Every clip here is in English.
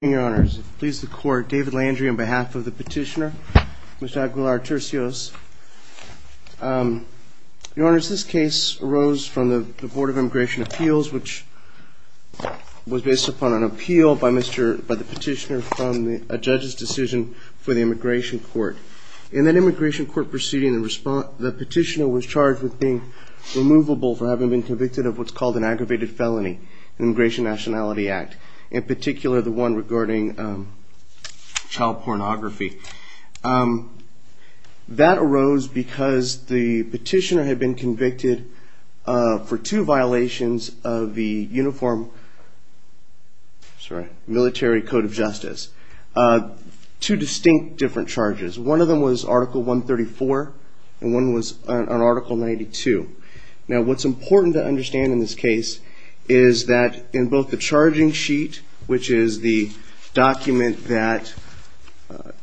Your Honors, it pleases the Court, David Landry on behalf of the Petitioner, Mr. Aguilar-Turcios. Your Honors, this case arose from the Board of Immigration Appeals, which was based upon an appeal by the Petitioner from a judge's decision for the Immigration Court. In that Immigration Court proceeding, the Petitioner was charged with being removable for having been convicted of what's called an aggravated felony in the Immigration Nationality Act, in particular the one regarding child pornography. That arose because the Petitioner had been convicted for two violations of the Uniform Military Code of Justice, two distinct different charges. One of them was Article 134 and one was on Article 92. Now, what's important to understand in this case is that in both the charging sheet, which is the document that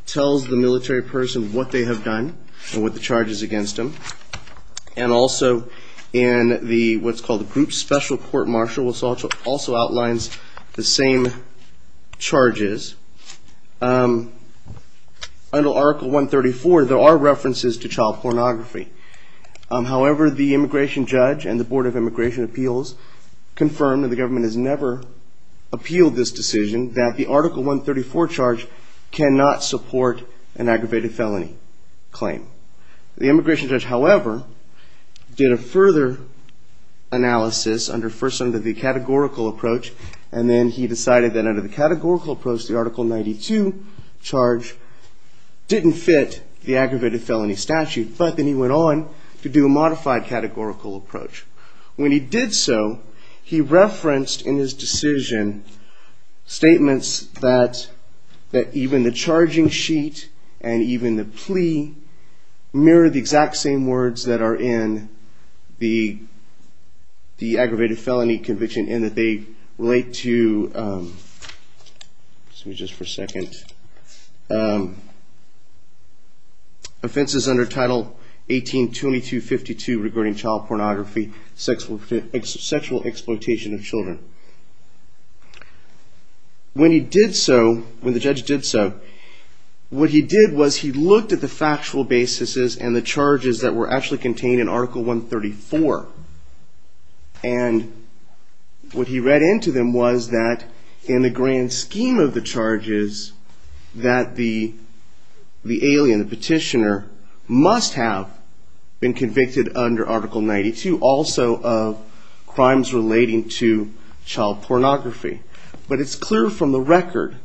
tells the military person what they have done and what the charge is against them, and also in what's called the Group Special Court Marshall, which also outlines the same charges, under Article 134 there are references to child pornography. However, the Immigration Judge and the Board of Immigration Appeals confirmed that the government has never appealed this decision, that the Article 134 charge cannot support an aggravated felony claim. The Immigration Judge, however, did a further analysis, first under the categorical approach, and then he decided that under the categorical approach the Article 92 charge didn't fit the aggravated felony statute. But then he went on to do a modified categorical approach. When he did so, he referenced in his decision statements that even the charging sheet and even the plea mirror the exact same words that are in the aggravated felony conviction, and that they relate to, excuse me just for a second, offenses under Title 18-2252 regarding child pornography, sexual exploitation of children. When he did so, when the judge did so, what he did was he looked at the factual basis and the charges that were actually contained in Article 134. And what he read into them was that in the grand scheme of the charges that the alien, the petitioner, must have been convicted under Article 92, also of crimes relating to child pornography. But it's clear from the record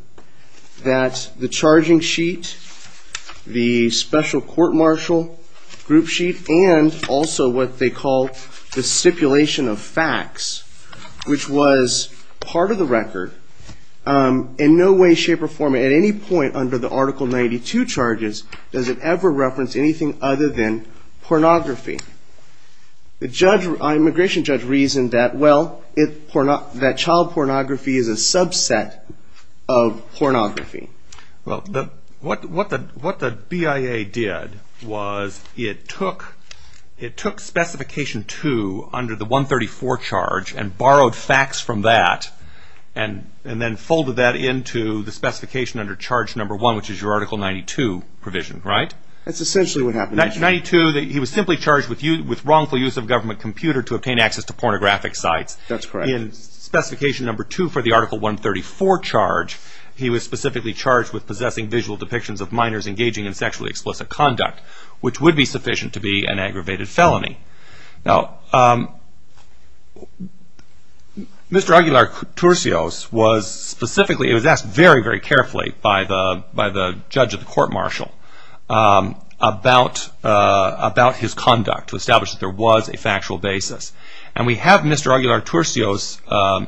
that the charging sheet, the special court-martial group sheet, and also what they call the stipulation of facts, which was part of the record, in no way, shape, or form at any point under the Article 92 charges does it ever reference anything other than pornography. The immigration judge reasoned that, well, that child pornography is a subset of pornography. Well, what the BIA did was it took Specification 2 under the 134 charge and borrowed facts from that, and then folded that into the specification under Charge No. 1, which is your Article 92 provision, right? That's essentially what happened. In 1992, he was simply charged with wrongful use of a government computer to obtain access to pornographic sites. That's correct. In Specification No. 2 for the Article 134 charge, he was specifically charged with possessing visual depictions of minors engaging in sexually explicit conduct, which would be sufficient to be an aggravated felony. Now, Mr. Aguilar-Turcios was asked very, very carefully by the judge at the court-martial about his conduct to establish that there was a factual basis. And we have Mr. Aguilar-Turcios'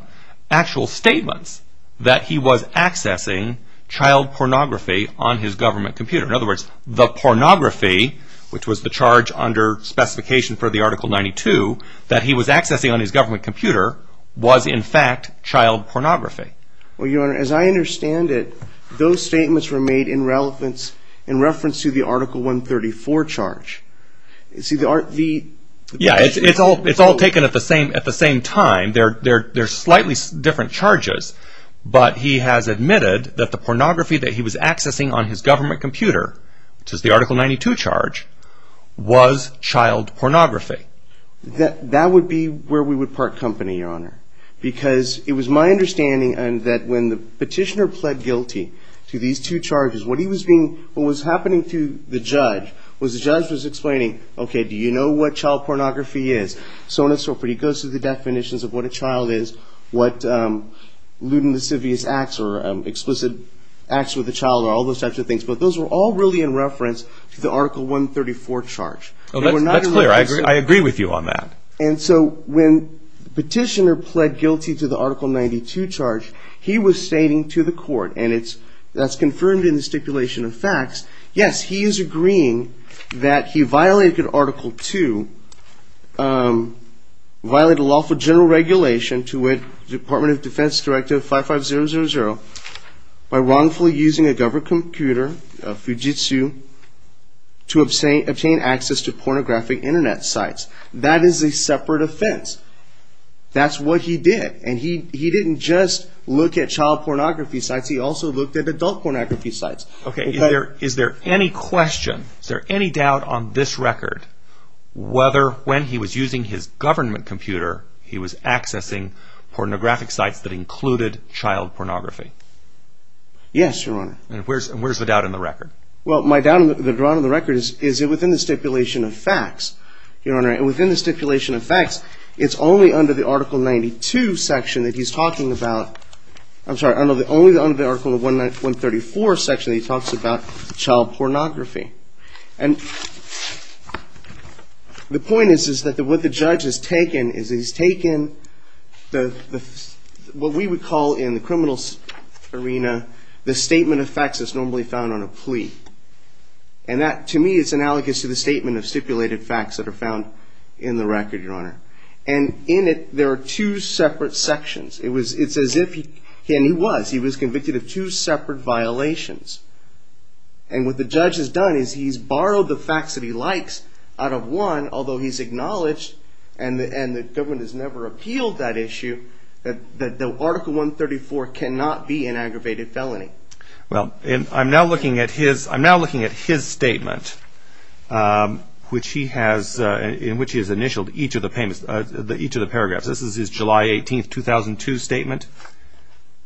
actual statements that he was accessing child pornography on his government computer. In other words, the pornography, which was the charge under Specification for the Article 92, that he was accessing on his government computer, was, in fact, child pornography. Well, Your Honor, as I understand it, those statements were made in reference to the Article 134 charge. Yeah, it's all taken at the same time. They're slightly different charges, but he has admitted that the pornography that he was accessing on his government computer, which is the Article 92 charge, was child pornography. That would be where we would part company, Your Honor. Because it was my understanding that when the petitioner pled guilty to these two charges, what was happening to the judge was the judge was explaining, okay, do you know what child pornography is? So on and so forth. He goes through the definitions of what a child is, what lewd and mischievous acts or explicit acts with a child, all those types of things. But those were all really in reference to the Article 134 charge. That's clear. I agree with you on that. And so when the petitioner pled guilty to the Article 92 charge, he was stating to the court, and that's confirmed in the stipulation of facts, yes, he is agreeing that he violated Article 2, violated lawful general regulation to which Department of Defense Directive 55000 by wrongfully using a government computer, a Fujitsu, to obtain access to pornographic Internet sites. That is a separate offense. That's what he did. And he didn't just look at child pornography sites. He also looked at adult pornography sites. Okay. Is there any question, is there any doubt on this record, whether when he was using his government computer, he was accessing pornographic sites that included child pornography? Yes, Your Honor. And where's the doubt in the record? Well, my doubt on the record is within the stipulation of facts, Your Honor. And within the stipulation of facts, it's only under the Article 92 section that he's talking about, I'm sorry, only under the Article 134 section that he talks about child pornography. And the point is that what the judge has taken is he's taken what we would call in the criminal arena, the statement of facts that's normally found on a plea. And that, to me, is analogous to the statement of stipulated facts that are found in the record, Your Honor. And in it, there are two separate sections. It's as if he, and he was, he was convicted of two separate violations. And what the judge has done is he's borrowed the facts that he likes out of one, although he's acknowledged and the government has never appealed that issue, that the Article 134 cannot be an aggravated felony. Well, I'm now looking at his statement, which he has, in which he has initialed each of the paragraphs. This is his July 18, 2002 statement.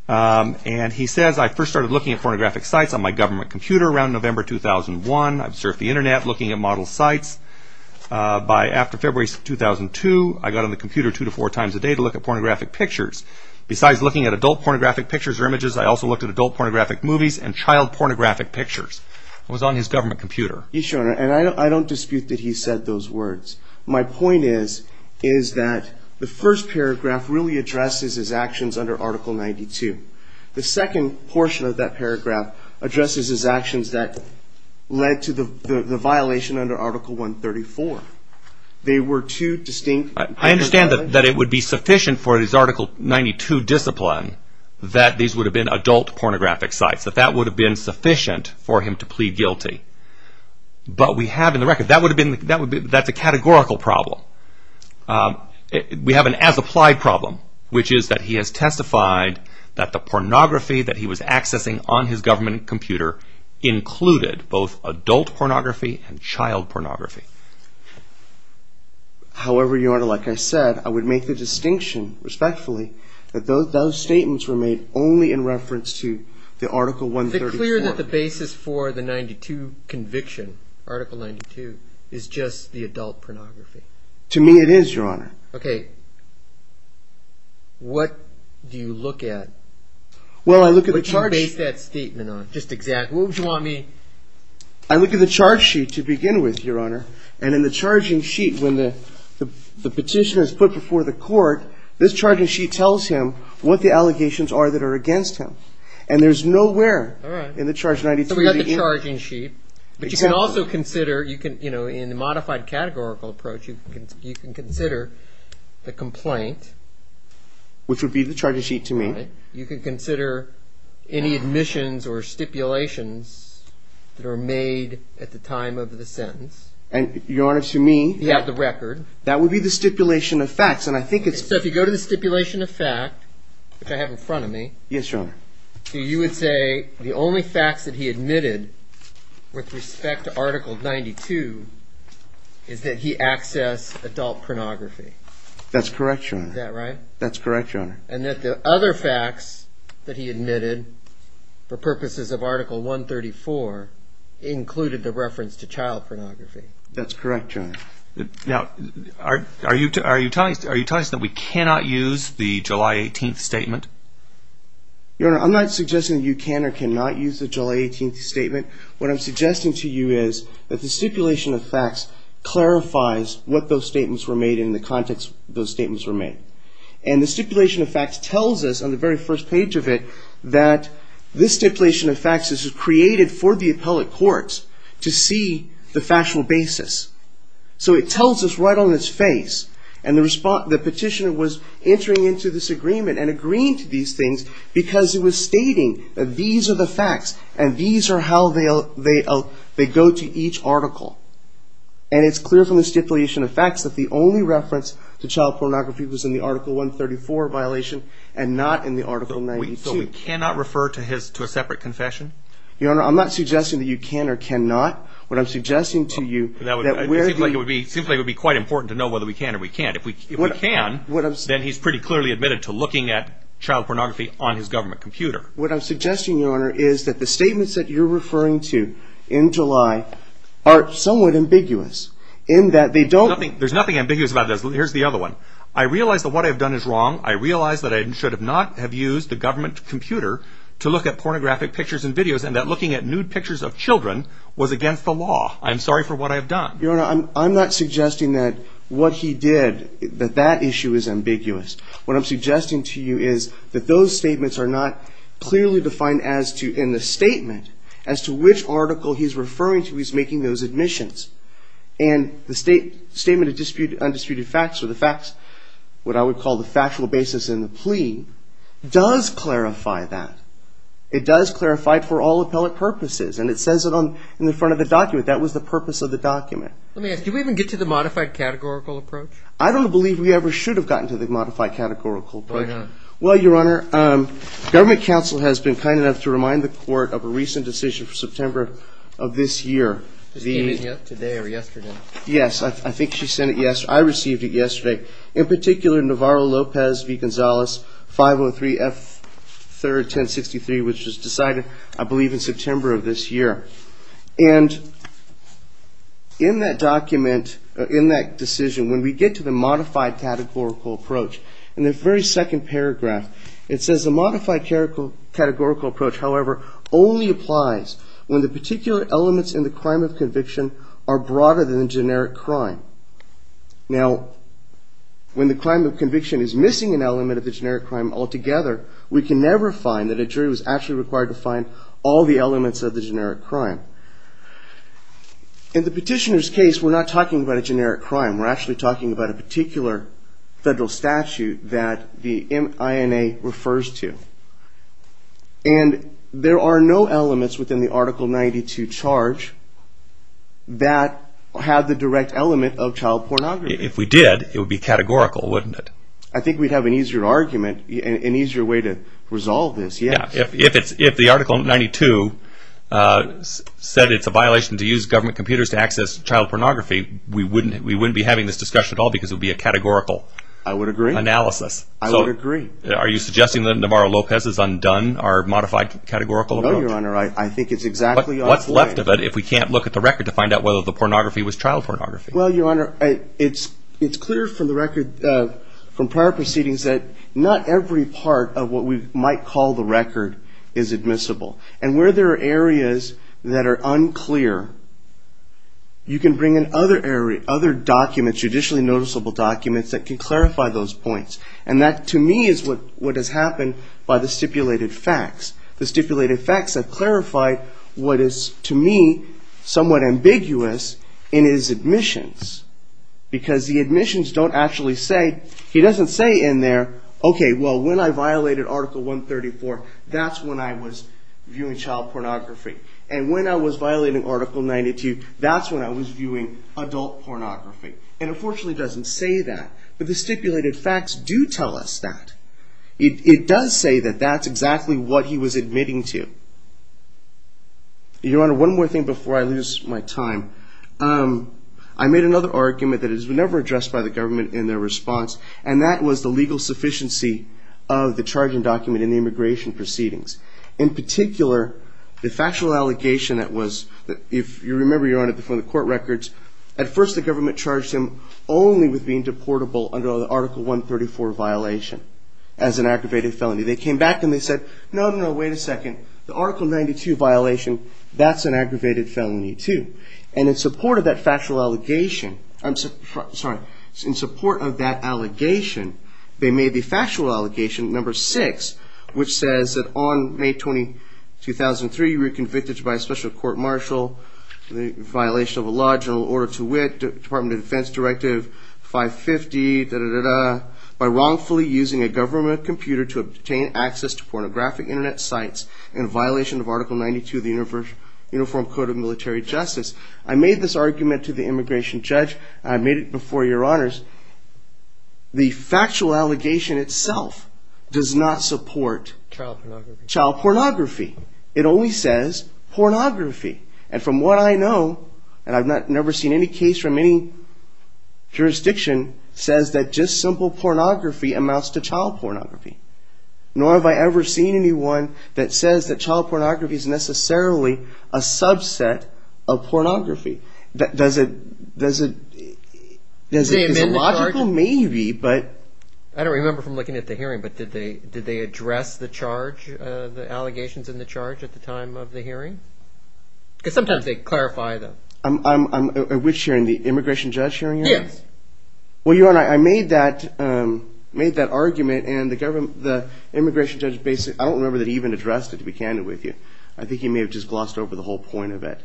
And he says, I first started looking at pornographic sites on my government computer around November 2001. I've surfed the Internet looking at model sites. By after February 2002, I got on the computer two to four times a day to look at pornographic pictures. Besides looking at adult pornographic pictures or images, I also looked at adult pornographic movies and child pornographic pictures. It was on his government computer. Yes, Your Honor, and I don't dispute that he said those words. My point is, is that the first paragraph really addresses his actions under Article 92. The second portion of that paragraph addresses his actions that led to the violation under Article 134. They were two distinct... I understand that it would be sufficient for his Article 92 discipline that these would have been adult pornographic sites, that that would have been sufficient for him to plead guilty. But we have in the record, that's a categorical problem. We have an as-applied problem, which is that he has testified that the pornography that he was accessing on his government computer included both adult pornography and child pornography. However, Your Honor, like I said, I would make the distinction, respectfully, that those statements were made only in reference to the Article 134. Is it clear that the basis for the 92 conviction, Article 92, is just the adult pornography? To me, it is, Your Honor. Okay. What do you look at? Well, I look at the charge... What do you base that statement on, just exactly? What would you want me... I look at the charge sheet to begin with, Your Honor, and in the charging sheet, when the petition is put before the court, this charging sheet tells him what the allegations are that are against him. And there's nowhere in the charging sheet... So we have the charging sheet. Exactly. But you can also consider, you know, in the modified categorical approach, you can consider the complaint. Which would be the charging sheet to me. You can consider any admissions or stipulations that are made at the time of the sentence. And, Your Honor, to me... You have the record. That would be the stipulation of facts, and I think it's... So if you go to the stipulation of fact, which I have in front of me... Yes, Your Honor. You would say the only facts that he admitted with respect to Article 92 is that he accessed adult pornography. That's correct, Your Honor. Is that right? That's correct, Your Honor. And that the other facts that he admitted for purposes of Article 134 included the reference to child pornography. That's correct, Your Honor. Now, are you telling us that we cannot use the July 18th statement? Your Honor, I'm not suggesting that you can or cannot use the July 18th statement. What I'm suggesting to you is that the stipulation of facts clarifies what those statements were made in the context those statements were made. And the stipulation of facts tells us on the very first page of it that this stipulation of facts is created for the appellate courts to see the factual basis. So it tells us right on its face, and the petitioner was entering into this agreement and agreeing to these things because he was stating that these are the facts and these are how they go to each article. And it's clear from the stipulation of facts that the only reference to child pornography was in the Article 134 violation and not in the Article 92. So we cannot refer to a separate confession? Your Honor, I'm not suggesting that you can or cannot. What I'm suggesting to you... It seems like it would be quite important to know whether we can or we can't. If we can, then he's pretty clearly admitted to looking at child pornography on his government computer. What I'm suggesting, Your Honor, is that the statements that you're referring to in July are somewhat ambiguous in that they don't... There's nothing ambiguous about this. Here's the other one. I realize that what I've done is wrong. I realize that I should not have used the government computer to look at pornographic pictures and videos and that looking at nude pictures of children was against the law. I'm sorry for what I've done. Your Honor, I'm not suggesting that what he did... that that issue is ambiguous. What I'm suggesting to you is that those statements are not clearly defined as to... in the statement as to which article he's referring to, he's making those admissions. And the Statement of Undisputed Facts, or the facts... what I would call the factual basis in the plea does clarify that. It does clarify it for all appellate purposes. And it says it in the front of the document. That was the purpose of the document. Let me ask, do we even get to the modified categorical approach? I don't believe we ever should have gotten to the modified categorical approach. Why not? Well, Your Honor, Government Counsel has been kind enough to remind the Court of a recent decision for September of this year. This came in yesterday or yesterday? Yes, I think she sent it yesterday. I received it yesterday. In particular, Navarro-Lopez v. Gonzales, 503 F. 3rd, 1063, which was decided, I believe, in September of this year. And in that document, in that decision, when we get to the modified categorical approach, in the very second paragraph, it says the modified categorical approach, however, only applies when the particular elements in the crime of conviction are broader than the generic crime. Now, when the crime of conviction is missing an element of the generic crime altogether, we can never find that a jury was actually required to find all the elements of the generic crime. In the petitioner's case, we're not talking about a generic crime. We're actually talking about a particular federal statute that the INA refers to. And there are no elements within the Article 92 charge that have the direct element of child pornography. If we did, it would be categorical, wouldn't it? I think we'd have an easier argument, an easier way to resolve this, yes. If the Article 92 said it's a violation to use government computers to access child pornography, we wouldn't be having this discussion at all because it would be a categorical analysis. I would agree. Are you suggesting that Navarro-Lopez's undone, our modified categorical approach? No, Your Honor, I think it's exactly on its way. What's left of it if we can't look at the record to find out whether the pornography was child pornography? Well, Your Honor, it's clear from the record from prior proceedings that not every part of what we might call the record is admissible. And where there are areas that are unclear, you can bring in other documents, judicially noticeable documents that can clarify those points. And that, to me, is what has happened by the stipulated facts. The stipulated facts have clarified what is, to me, somewhat ambiguous in his admissions. Because the admissions don't actually say, he doesn't say in there, okay, well, when I violated Article 134, that's when I was viewing child pornography. And when I was violating Article 92, that's when I was viewing adult pornography. And unfortunately he doesn't say that. But the stipulated facts do tell us that. It does say that that's exactly what he was admitting to. Your Honor, one more thing before I lose my time. I made another argument that has never been addressed by the government in their response, and that was the legal sufficiency of the charging document in the immigration proceedings. In particular, the factual allegation that was, if you remember, Your Honor, from the court records, at first the government charged him only with being deportable under the Article 134 violation as an aggravated felony. They came back and they said, no, no, wait a second. The Article 92 violation, that's an aggravated felony too. And in support of that factual allegation, I'm sorry, in support of that allegation, they made the factual allegation, number six, which says that on May 20, 2003, you were convicted by a special court martial, the violation of a law, general order to wit, Department of Defense Directive 550, by wrongfully using a government computer to obtain access to pornographic Internet sites in violation of Article 92 of the Uniform Code of Military Justice. I made this argument to the immigration judge. I made it before Your Honors. The factual allegation itself does not support child pornography. It only says pornography. And from what I know, and I've never seen any case from any jurisdiction, says that just simple pornography amounts to child pornography. Nor have I ever seen anyone that says that child pornography is necessarily a subset of pornography. Does it make logical? Maybe, but... I don't remember from looking at the hearing, but did they address the charge, the allegations in the charge at the time of the hearing? Because sometimes they clarify them. At which hearing, the immigration judge hearing? Yes. Well, Your Honor, I made that argument, and the immigration judge basically, I don't remember that he even addressed it, to be candid with you. I think he may have just glossed over the whole point of it.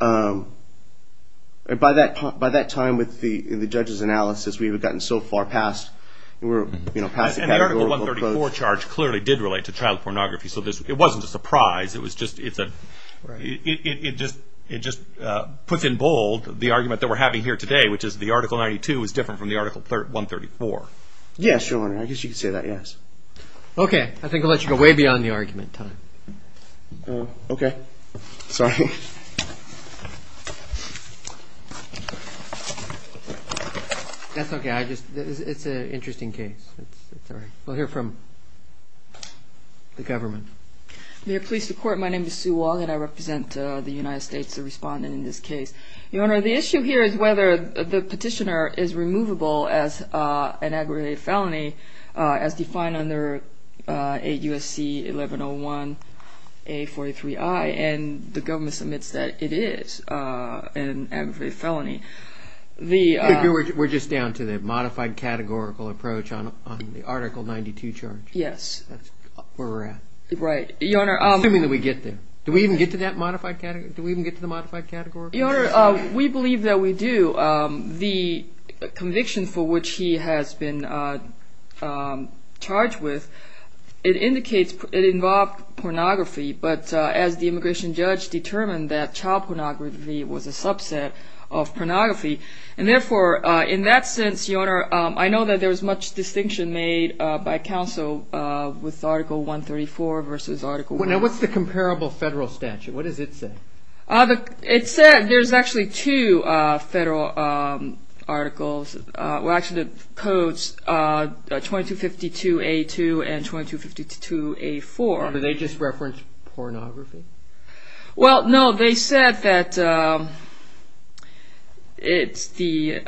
By that time, with the judge's analysis, we had gotten so far past categorical... And the Article 134 charge clearly did relate to child pornography, so it wasn't a surprise. It just puts in bold the argument that we're having here today, which is the Article 92 is different from the Article 134. Yes, Your Honor, I guess you could say that, yes. Okay, I think I'll let you go way beyond the argument time. Okay, sorry. That's okay. It's an interesting case. We'll hear from the government. May I please report? My name is Sue Wong, and I represent the United States, the respondent in this case. Your Honor, the issue here is whether the petitioner is removable as an aggravated felony, as defined under 8 U.S.C. 1101 A.43i, and the government's amendment, which admits that it is an aggravated felony. We're just down to the modified categorical approach on the Article 92 charge. Yes. That's where we're at. Right. Your Honor... Assuming that we get there. Do we even get to the modified categorical approach? Your Honor, we believe that we do. The conviction for which he has been charged with, it indicates it involved pornography, but as the immigration judge determined, that child pornography was a subset of pornography. Therefore, in that sense, Your Honor, I know that there was much distinction made by counsel with Article 134 versus Article 1. What's the comparable federal statute? What does it say? It said there's actually two federal articles. Well, actually, the codes 2252A2 and 2252A4. Did they just reference pornography? Well, no. They said that it's the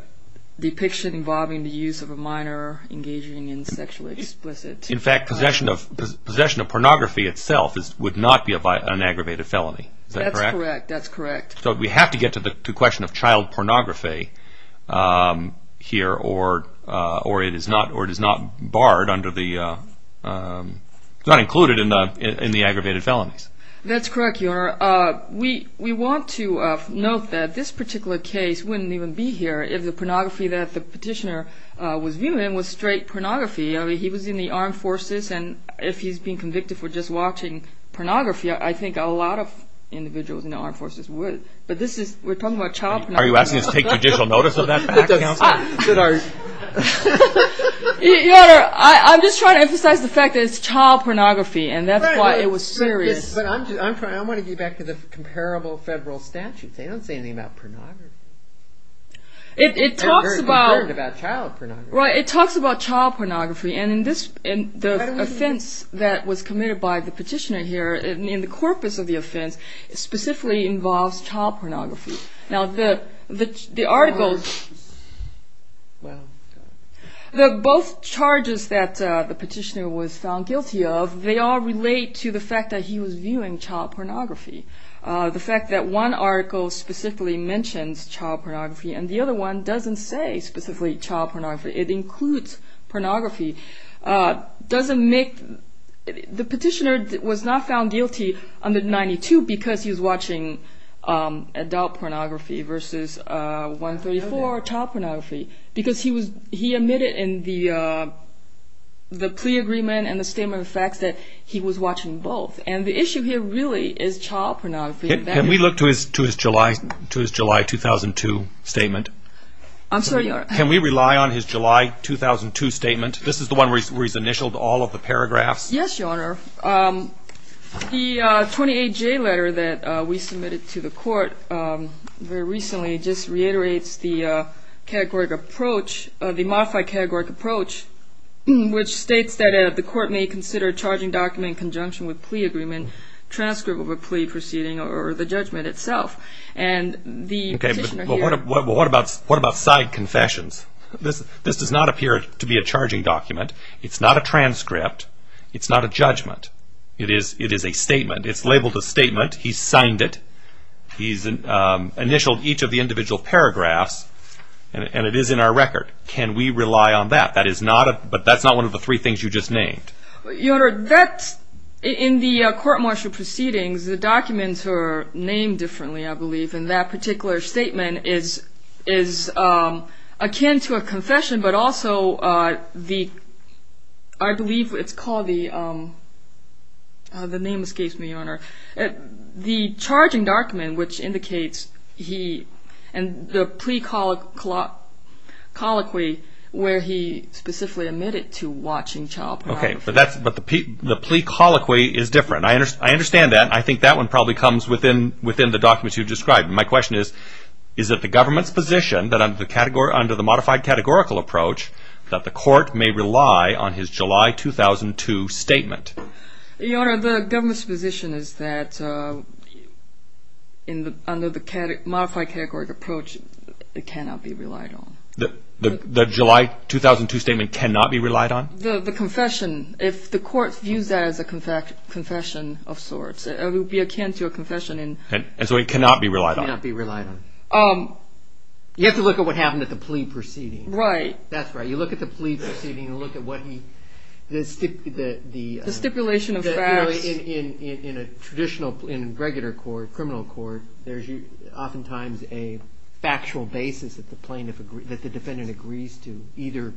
depiction involving the use of a minor engaging in sexually explicit... In fact, possession of pornography itself would not be an aggravated felony. Is that correct? That's correct. We have to get to the question of child pornography here, or it is not barred under the... It's not included in the aggravated felonies. That's correct, Your Honor. We want to note that this particular case wouldn't even be here if the pornography that the petitioner was viewing was straight pornography. I mean, he was in the armed forces, and if he's being convicted for just watching pornography, I think a lot of individuals in the armed forces would. But this is... We're talking about child pornography. Are you asking us to take judicial notice of that, Counsel? Your Honor, I'm just trying to emphasize the fact that it's child pornography, and that's why it was serious. But I want to get back to the comparable federal statutes. They don't say anything about pornography. It talks about... I've heard about child pornography. It talks about child pornography, and the offense that was committed by the petitioner here, in the corpus of the offense, specifically involves child pornography. Now, the article... Both charges that the petitioner was found guilty of, they all relate to the fact that he was viewing child pornography. The fact that one article specifically mentions child pornography and the other one doesn't say specifically child pornography, it includes pornography, doesn't make... The petitioner was not found guilty under 92 because he was watching adult pornography versus 134, child pornography, because he admitted in the plea agreement and the statement of facts that he was watching both. And the issue here really is child pornography. Can we look to his July 2002 statement? I'm sorry, Your Honor. Can we rely on his July 2002 statement? This is the one where he's initialed all of the paragraphs? Yes, Your Honor. The 28J letter that we submitted to the court very recently just reiterates the categorical approach, the modified categorical approach, which states that the court may consider a charging document in conjunction with plea agreement, transcript of a plea proceeding, or the judgment itself. Okay, but what about side confessions? It's not a transcript. It's not a judgment. It is a statement. It's labeled a statement. He signed it. He's initialed each of the individual paragraphs, and it is in our record. Can we rely on that? But that's not one of the three things you just named. Your Honor, in the court-martial proceedings, the documents are named differently, I believe, and that particular statement is akin to a confession, but also the, I believe it's called the, the name escapes me, Your Honor, the charging document, which indicates he, and the plea colloquy, where he specifically admitted to watching child pornography. Okay, but the plea colloquy is different. I understand that. I think that one probably comes within the documents you described. My question is, is it the government's position that under the modified categorical approach, that the court may rely on his July 2002 statement? Your Honor, the government's position is that under the modified categorical approach, it cannot be relied on. The July 2002 statement cannot be relied on? The confession, if the court views that as a confession of sorts, it would be akin to a confession. And so it cannot be relied on? It cannot be relied on. You have to look at what happened at the plea proceeding. Right. That's right. You look at the plea proceeding and look at what he, the stipulation of facts. In a traditional, in a regular court, criminal court, there's oftentimes a factual basis that the defendant agrees to, either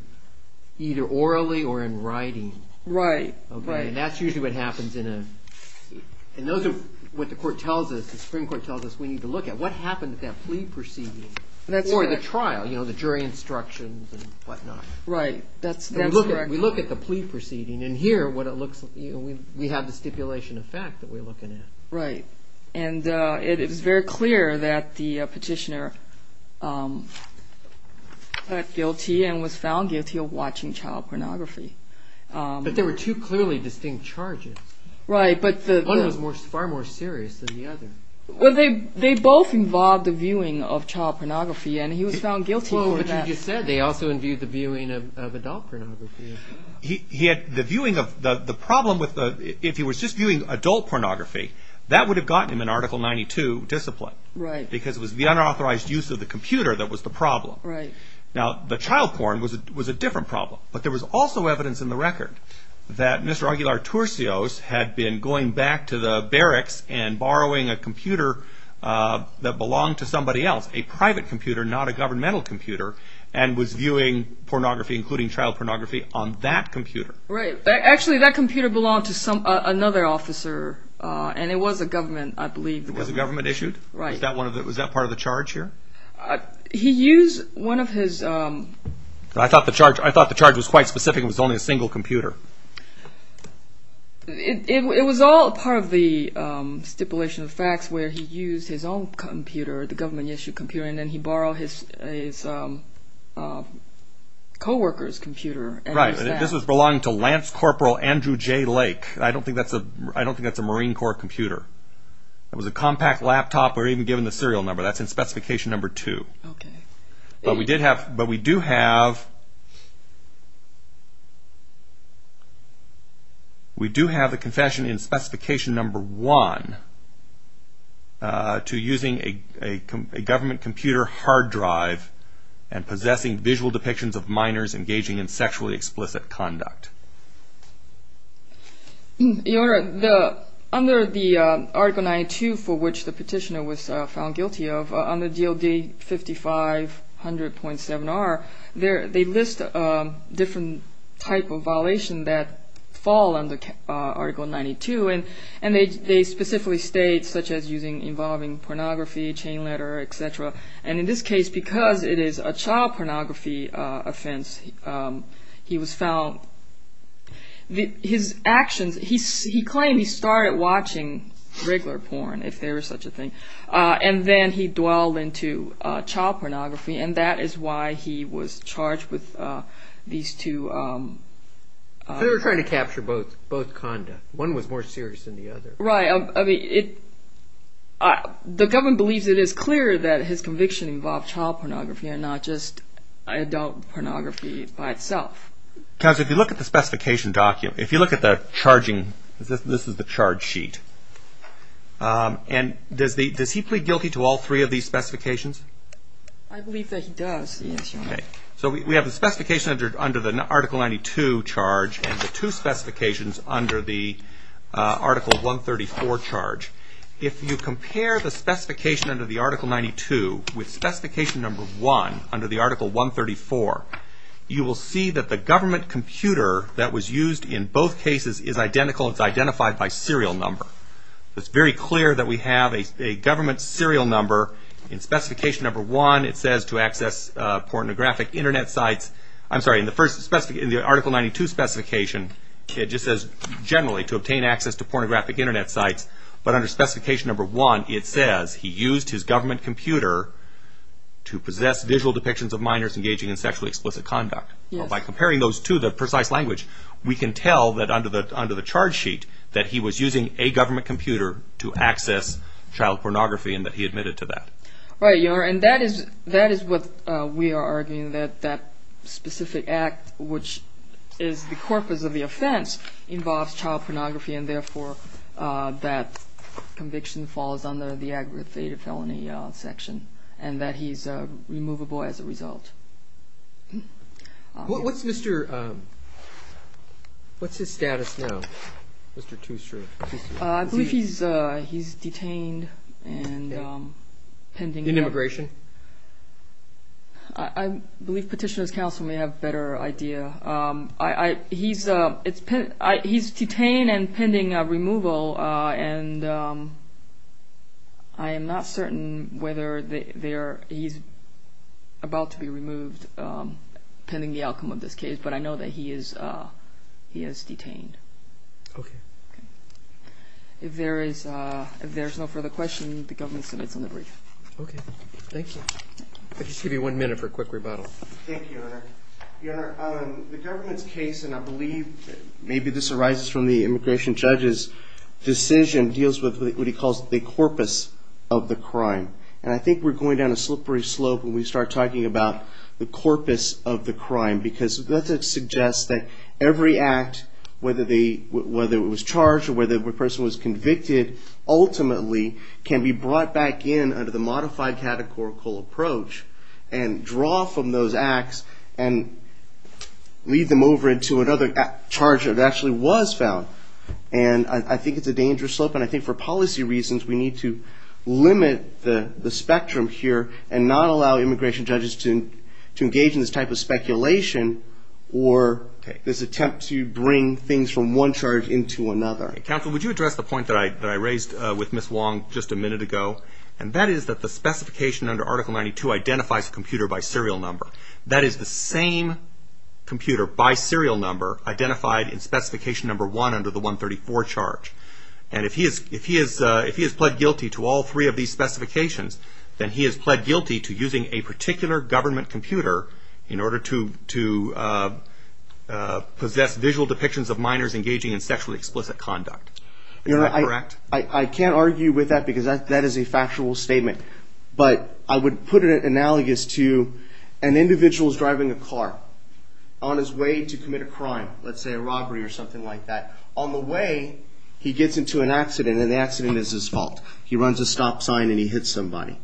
orally or in writing. Right, right. And that's usually what happens in a, and those are what the court tells us, the Supreme Court tells us we need to look at. What happened at that plea proceeding? That's correct. Or the trial, you know, the jury instructions and whatnot. Right, that's correct. We look at the plea proceeding and here what it looks, we have the stipulation of fact that we're looking at. Right. And it is very clear that the petitioner was found guilty of watching child pornography. But there were two clearly distinct charges. Right, but the... One was far more serious than the other. Well, they both involved the viewing of child pornography and he was found guilty for that. But you just said they also viewed the viewing of adult pornography. He had the viewing of, the problem with the, if he was just viewing adult pornography, that would have gotten him an Article 92 discipline. Right. Because it was the unauthorized use of the computer that was the problem. Right. Now, the child porn was a different problem. But there was also evidence in the record that Mr. Aguilar-Turcios had been going back to the barracks and borrowing a computer that belonged to somebody else, a private computer, not a governmental computer, and was viewing pornography, including child pornography, on that computer. Right. Actually, that computer belonged to another officer and it was a government, I believe. It was a government issued? Right. Was that part of the charge here? He used one of his... I thought the charge was quite specific, it was only a single computer. It was all part of the stipulation of facts where he used his own computer, the government issued computer, and then he borrowed his co-worker's computer. Right. This was belonging to Lance Corporal Andrew J. Lake. I don't think that's a Marine Corps computer. It was a compact laptop. We're even given the serial number. That's in Specification Number 2. Okay. But we do have... We do have the confession in Specification Number 1 to using a government computer hard drive and possessing visual depictions of minors engaging in sexually explicit conduct. Your Honor, under the Article 92 for which the petitioner was found guilty of, under DLD 5500.7R, they list different types of violations that fall under Article 92 and they specifically state, such as involving pornography, chain letter, etc. And in this case, because it is a child pornography offense, he was found... His actions... He claimed he started watching regular porn, if there was such a thing, and then he dwelled into child pornography and that is why he was charged with these two... They were trying to capture both conduct. One was more serious than the other. Right. I mean, it... The government believes it is clear that his conviction involved child pornography and not just adult pornography by itself. Counselor, if you look at the specification document, if you look at the charging... This is the charge sheet. And does he plead guilty to all three of these specifications? I believe that he does. Yes, Your Honor. Okay. So we have the specification under the Article 92 charge and the two specifications under the Article 134 charge. If you compare the specification under the Article 92 with specification number 1 under the Article 134, you will see that the government computer that was used in both cases is identical. It is identified by serial number. It is very clear that we have a government serial number in specification number 1 it says to access pornographic Internet sites. I'm sorry, in the Article 92 specification it just says generally to obtain access to pornographic Internet sites. But under specification number 1 it says he used his government computer to possess visual depictions of minors engaging in sexually explicit conduct. By comparing those two, the precise language, we can tell that under the charge sheet that he was using a government computer to access child pornography and that he admitted to that. Right. And that is what we are arguing that that specific act which is the corpus of the offense involves child pornography and therefore that conviction falls under the aggravated felony section and that he's removable as a result. What's his status now? I believe he's detained and pending... In immigration? I believe Petitioner's Counsel may have a better idea. He's detained and pending removal and I am not certain whether he's about to be removed pending the outcome of this case but I know that he is detained. Okay. If there is no further question, the government submits on the brief. Okay. Thank you. I'll just give you one minute for a quick rebuttal. Thank you, Your Honor. Your Honor, the government's case and I believe maybe this arises from the immigration judge's decision deals with what he calls the corpus of the crime and I think we're going down a slippery slope when we start talking about the corpus of the crime because that suggests that every act whether it was charged or whether the person was convicted ultimately can be brought back in under the modified catechorical approach and draw from those acts and lead them over into another charge that actually was found and I think it's a dangerous slope and I think for policy reasons we need to limit the spectrum here and not allow immigration judges to engage in this type of speculation or this attempt to bring things from one charge into another. Counsel, would you address the point that I raised with Ms. Wong just a minute ago and that is that the specification under Article 92 identifies a computer by serial number. That is the same computer by serial number identified in Specification Number 1 under the 134 charge and if he has pled guilty to all three of these specifications then he has pled guilty to using a particular government computer in order to possess visual depictions of minors engaging in sexually explicit conduct. Is that correct? I can't argue with that because that is a factual statement but I would put it analogous to an individual is driving a car on his way to commit a crime let's say a robbery or something like that on the way he gets into an accident and the accident is his fault. He runs a stop sign and he hits somebody.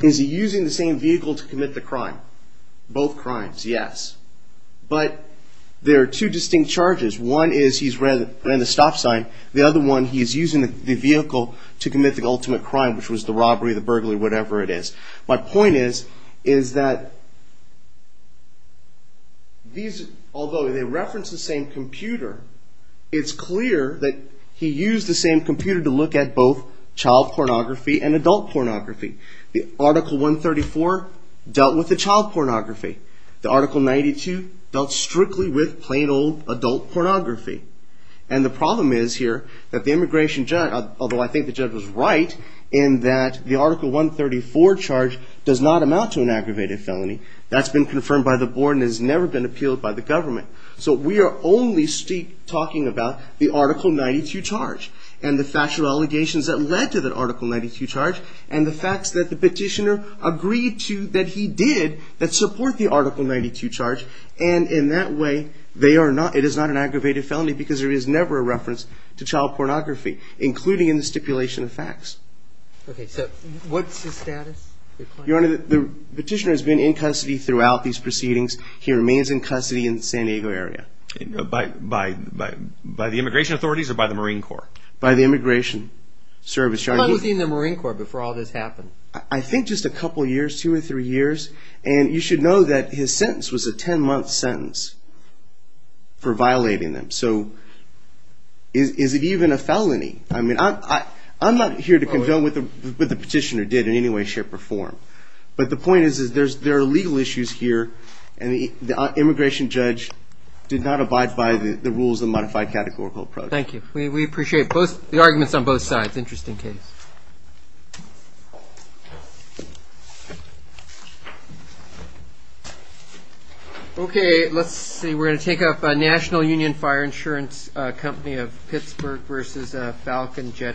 Is he using the same vehicle to commit the crime? Both crimes, yes. But there are two distinct charges. One is he's ran the stop sign. The other one he's using the vehicle to commit the ultimate crime which was the robbery, the burglary, whatever it is. My point is that although they reference the same computer it's clear that he used the same computer to look at both child pornography and adult pornography. Article 134 dealt with the child pornography. Article 92 dealt strictly with plain old adult pornography. And the problem is here that the immigration judge although I think the judge was right in that the Article 134 charge does not amount to an aggravated felony. That's been confirmed by the board and has never been appealed by the government. So we are only talking about the Article 92 charge and the factual allegations that led to the Article 92 charge and the facts that the petitioner agreed to that he did that support the Article 92 charge and in that way it is not an aggravated felony because there is never a reference to child pornography including in the stipulation of facts. Okay, so what's his status? Your Honor, the petitioner has been in custody throughout these proceedings. He remains in custody in the San Diego area. By the immigration authorities or by the Marine Corps? By the immigration service, Your Honor. How long was he in the Marine Corps before all this happened? I think just a couple of years, two or three years. And you should know that his sentence was a ten-month sentence for violating them. So is it even a felony? I'm not here to condone what the petitioner did in any way, shape, or form. But the point is there are legal issues here and the immigration judge did not abide by the rules of the modified categorical approach. Thank you. We appreciate the arguments on both sides. That's an interesting case. Okay, let's see. We're going to take up National Union Fire Insurance company of Pittsburgh versus Falcon Jet Corporation.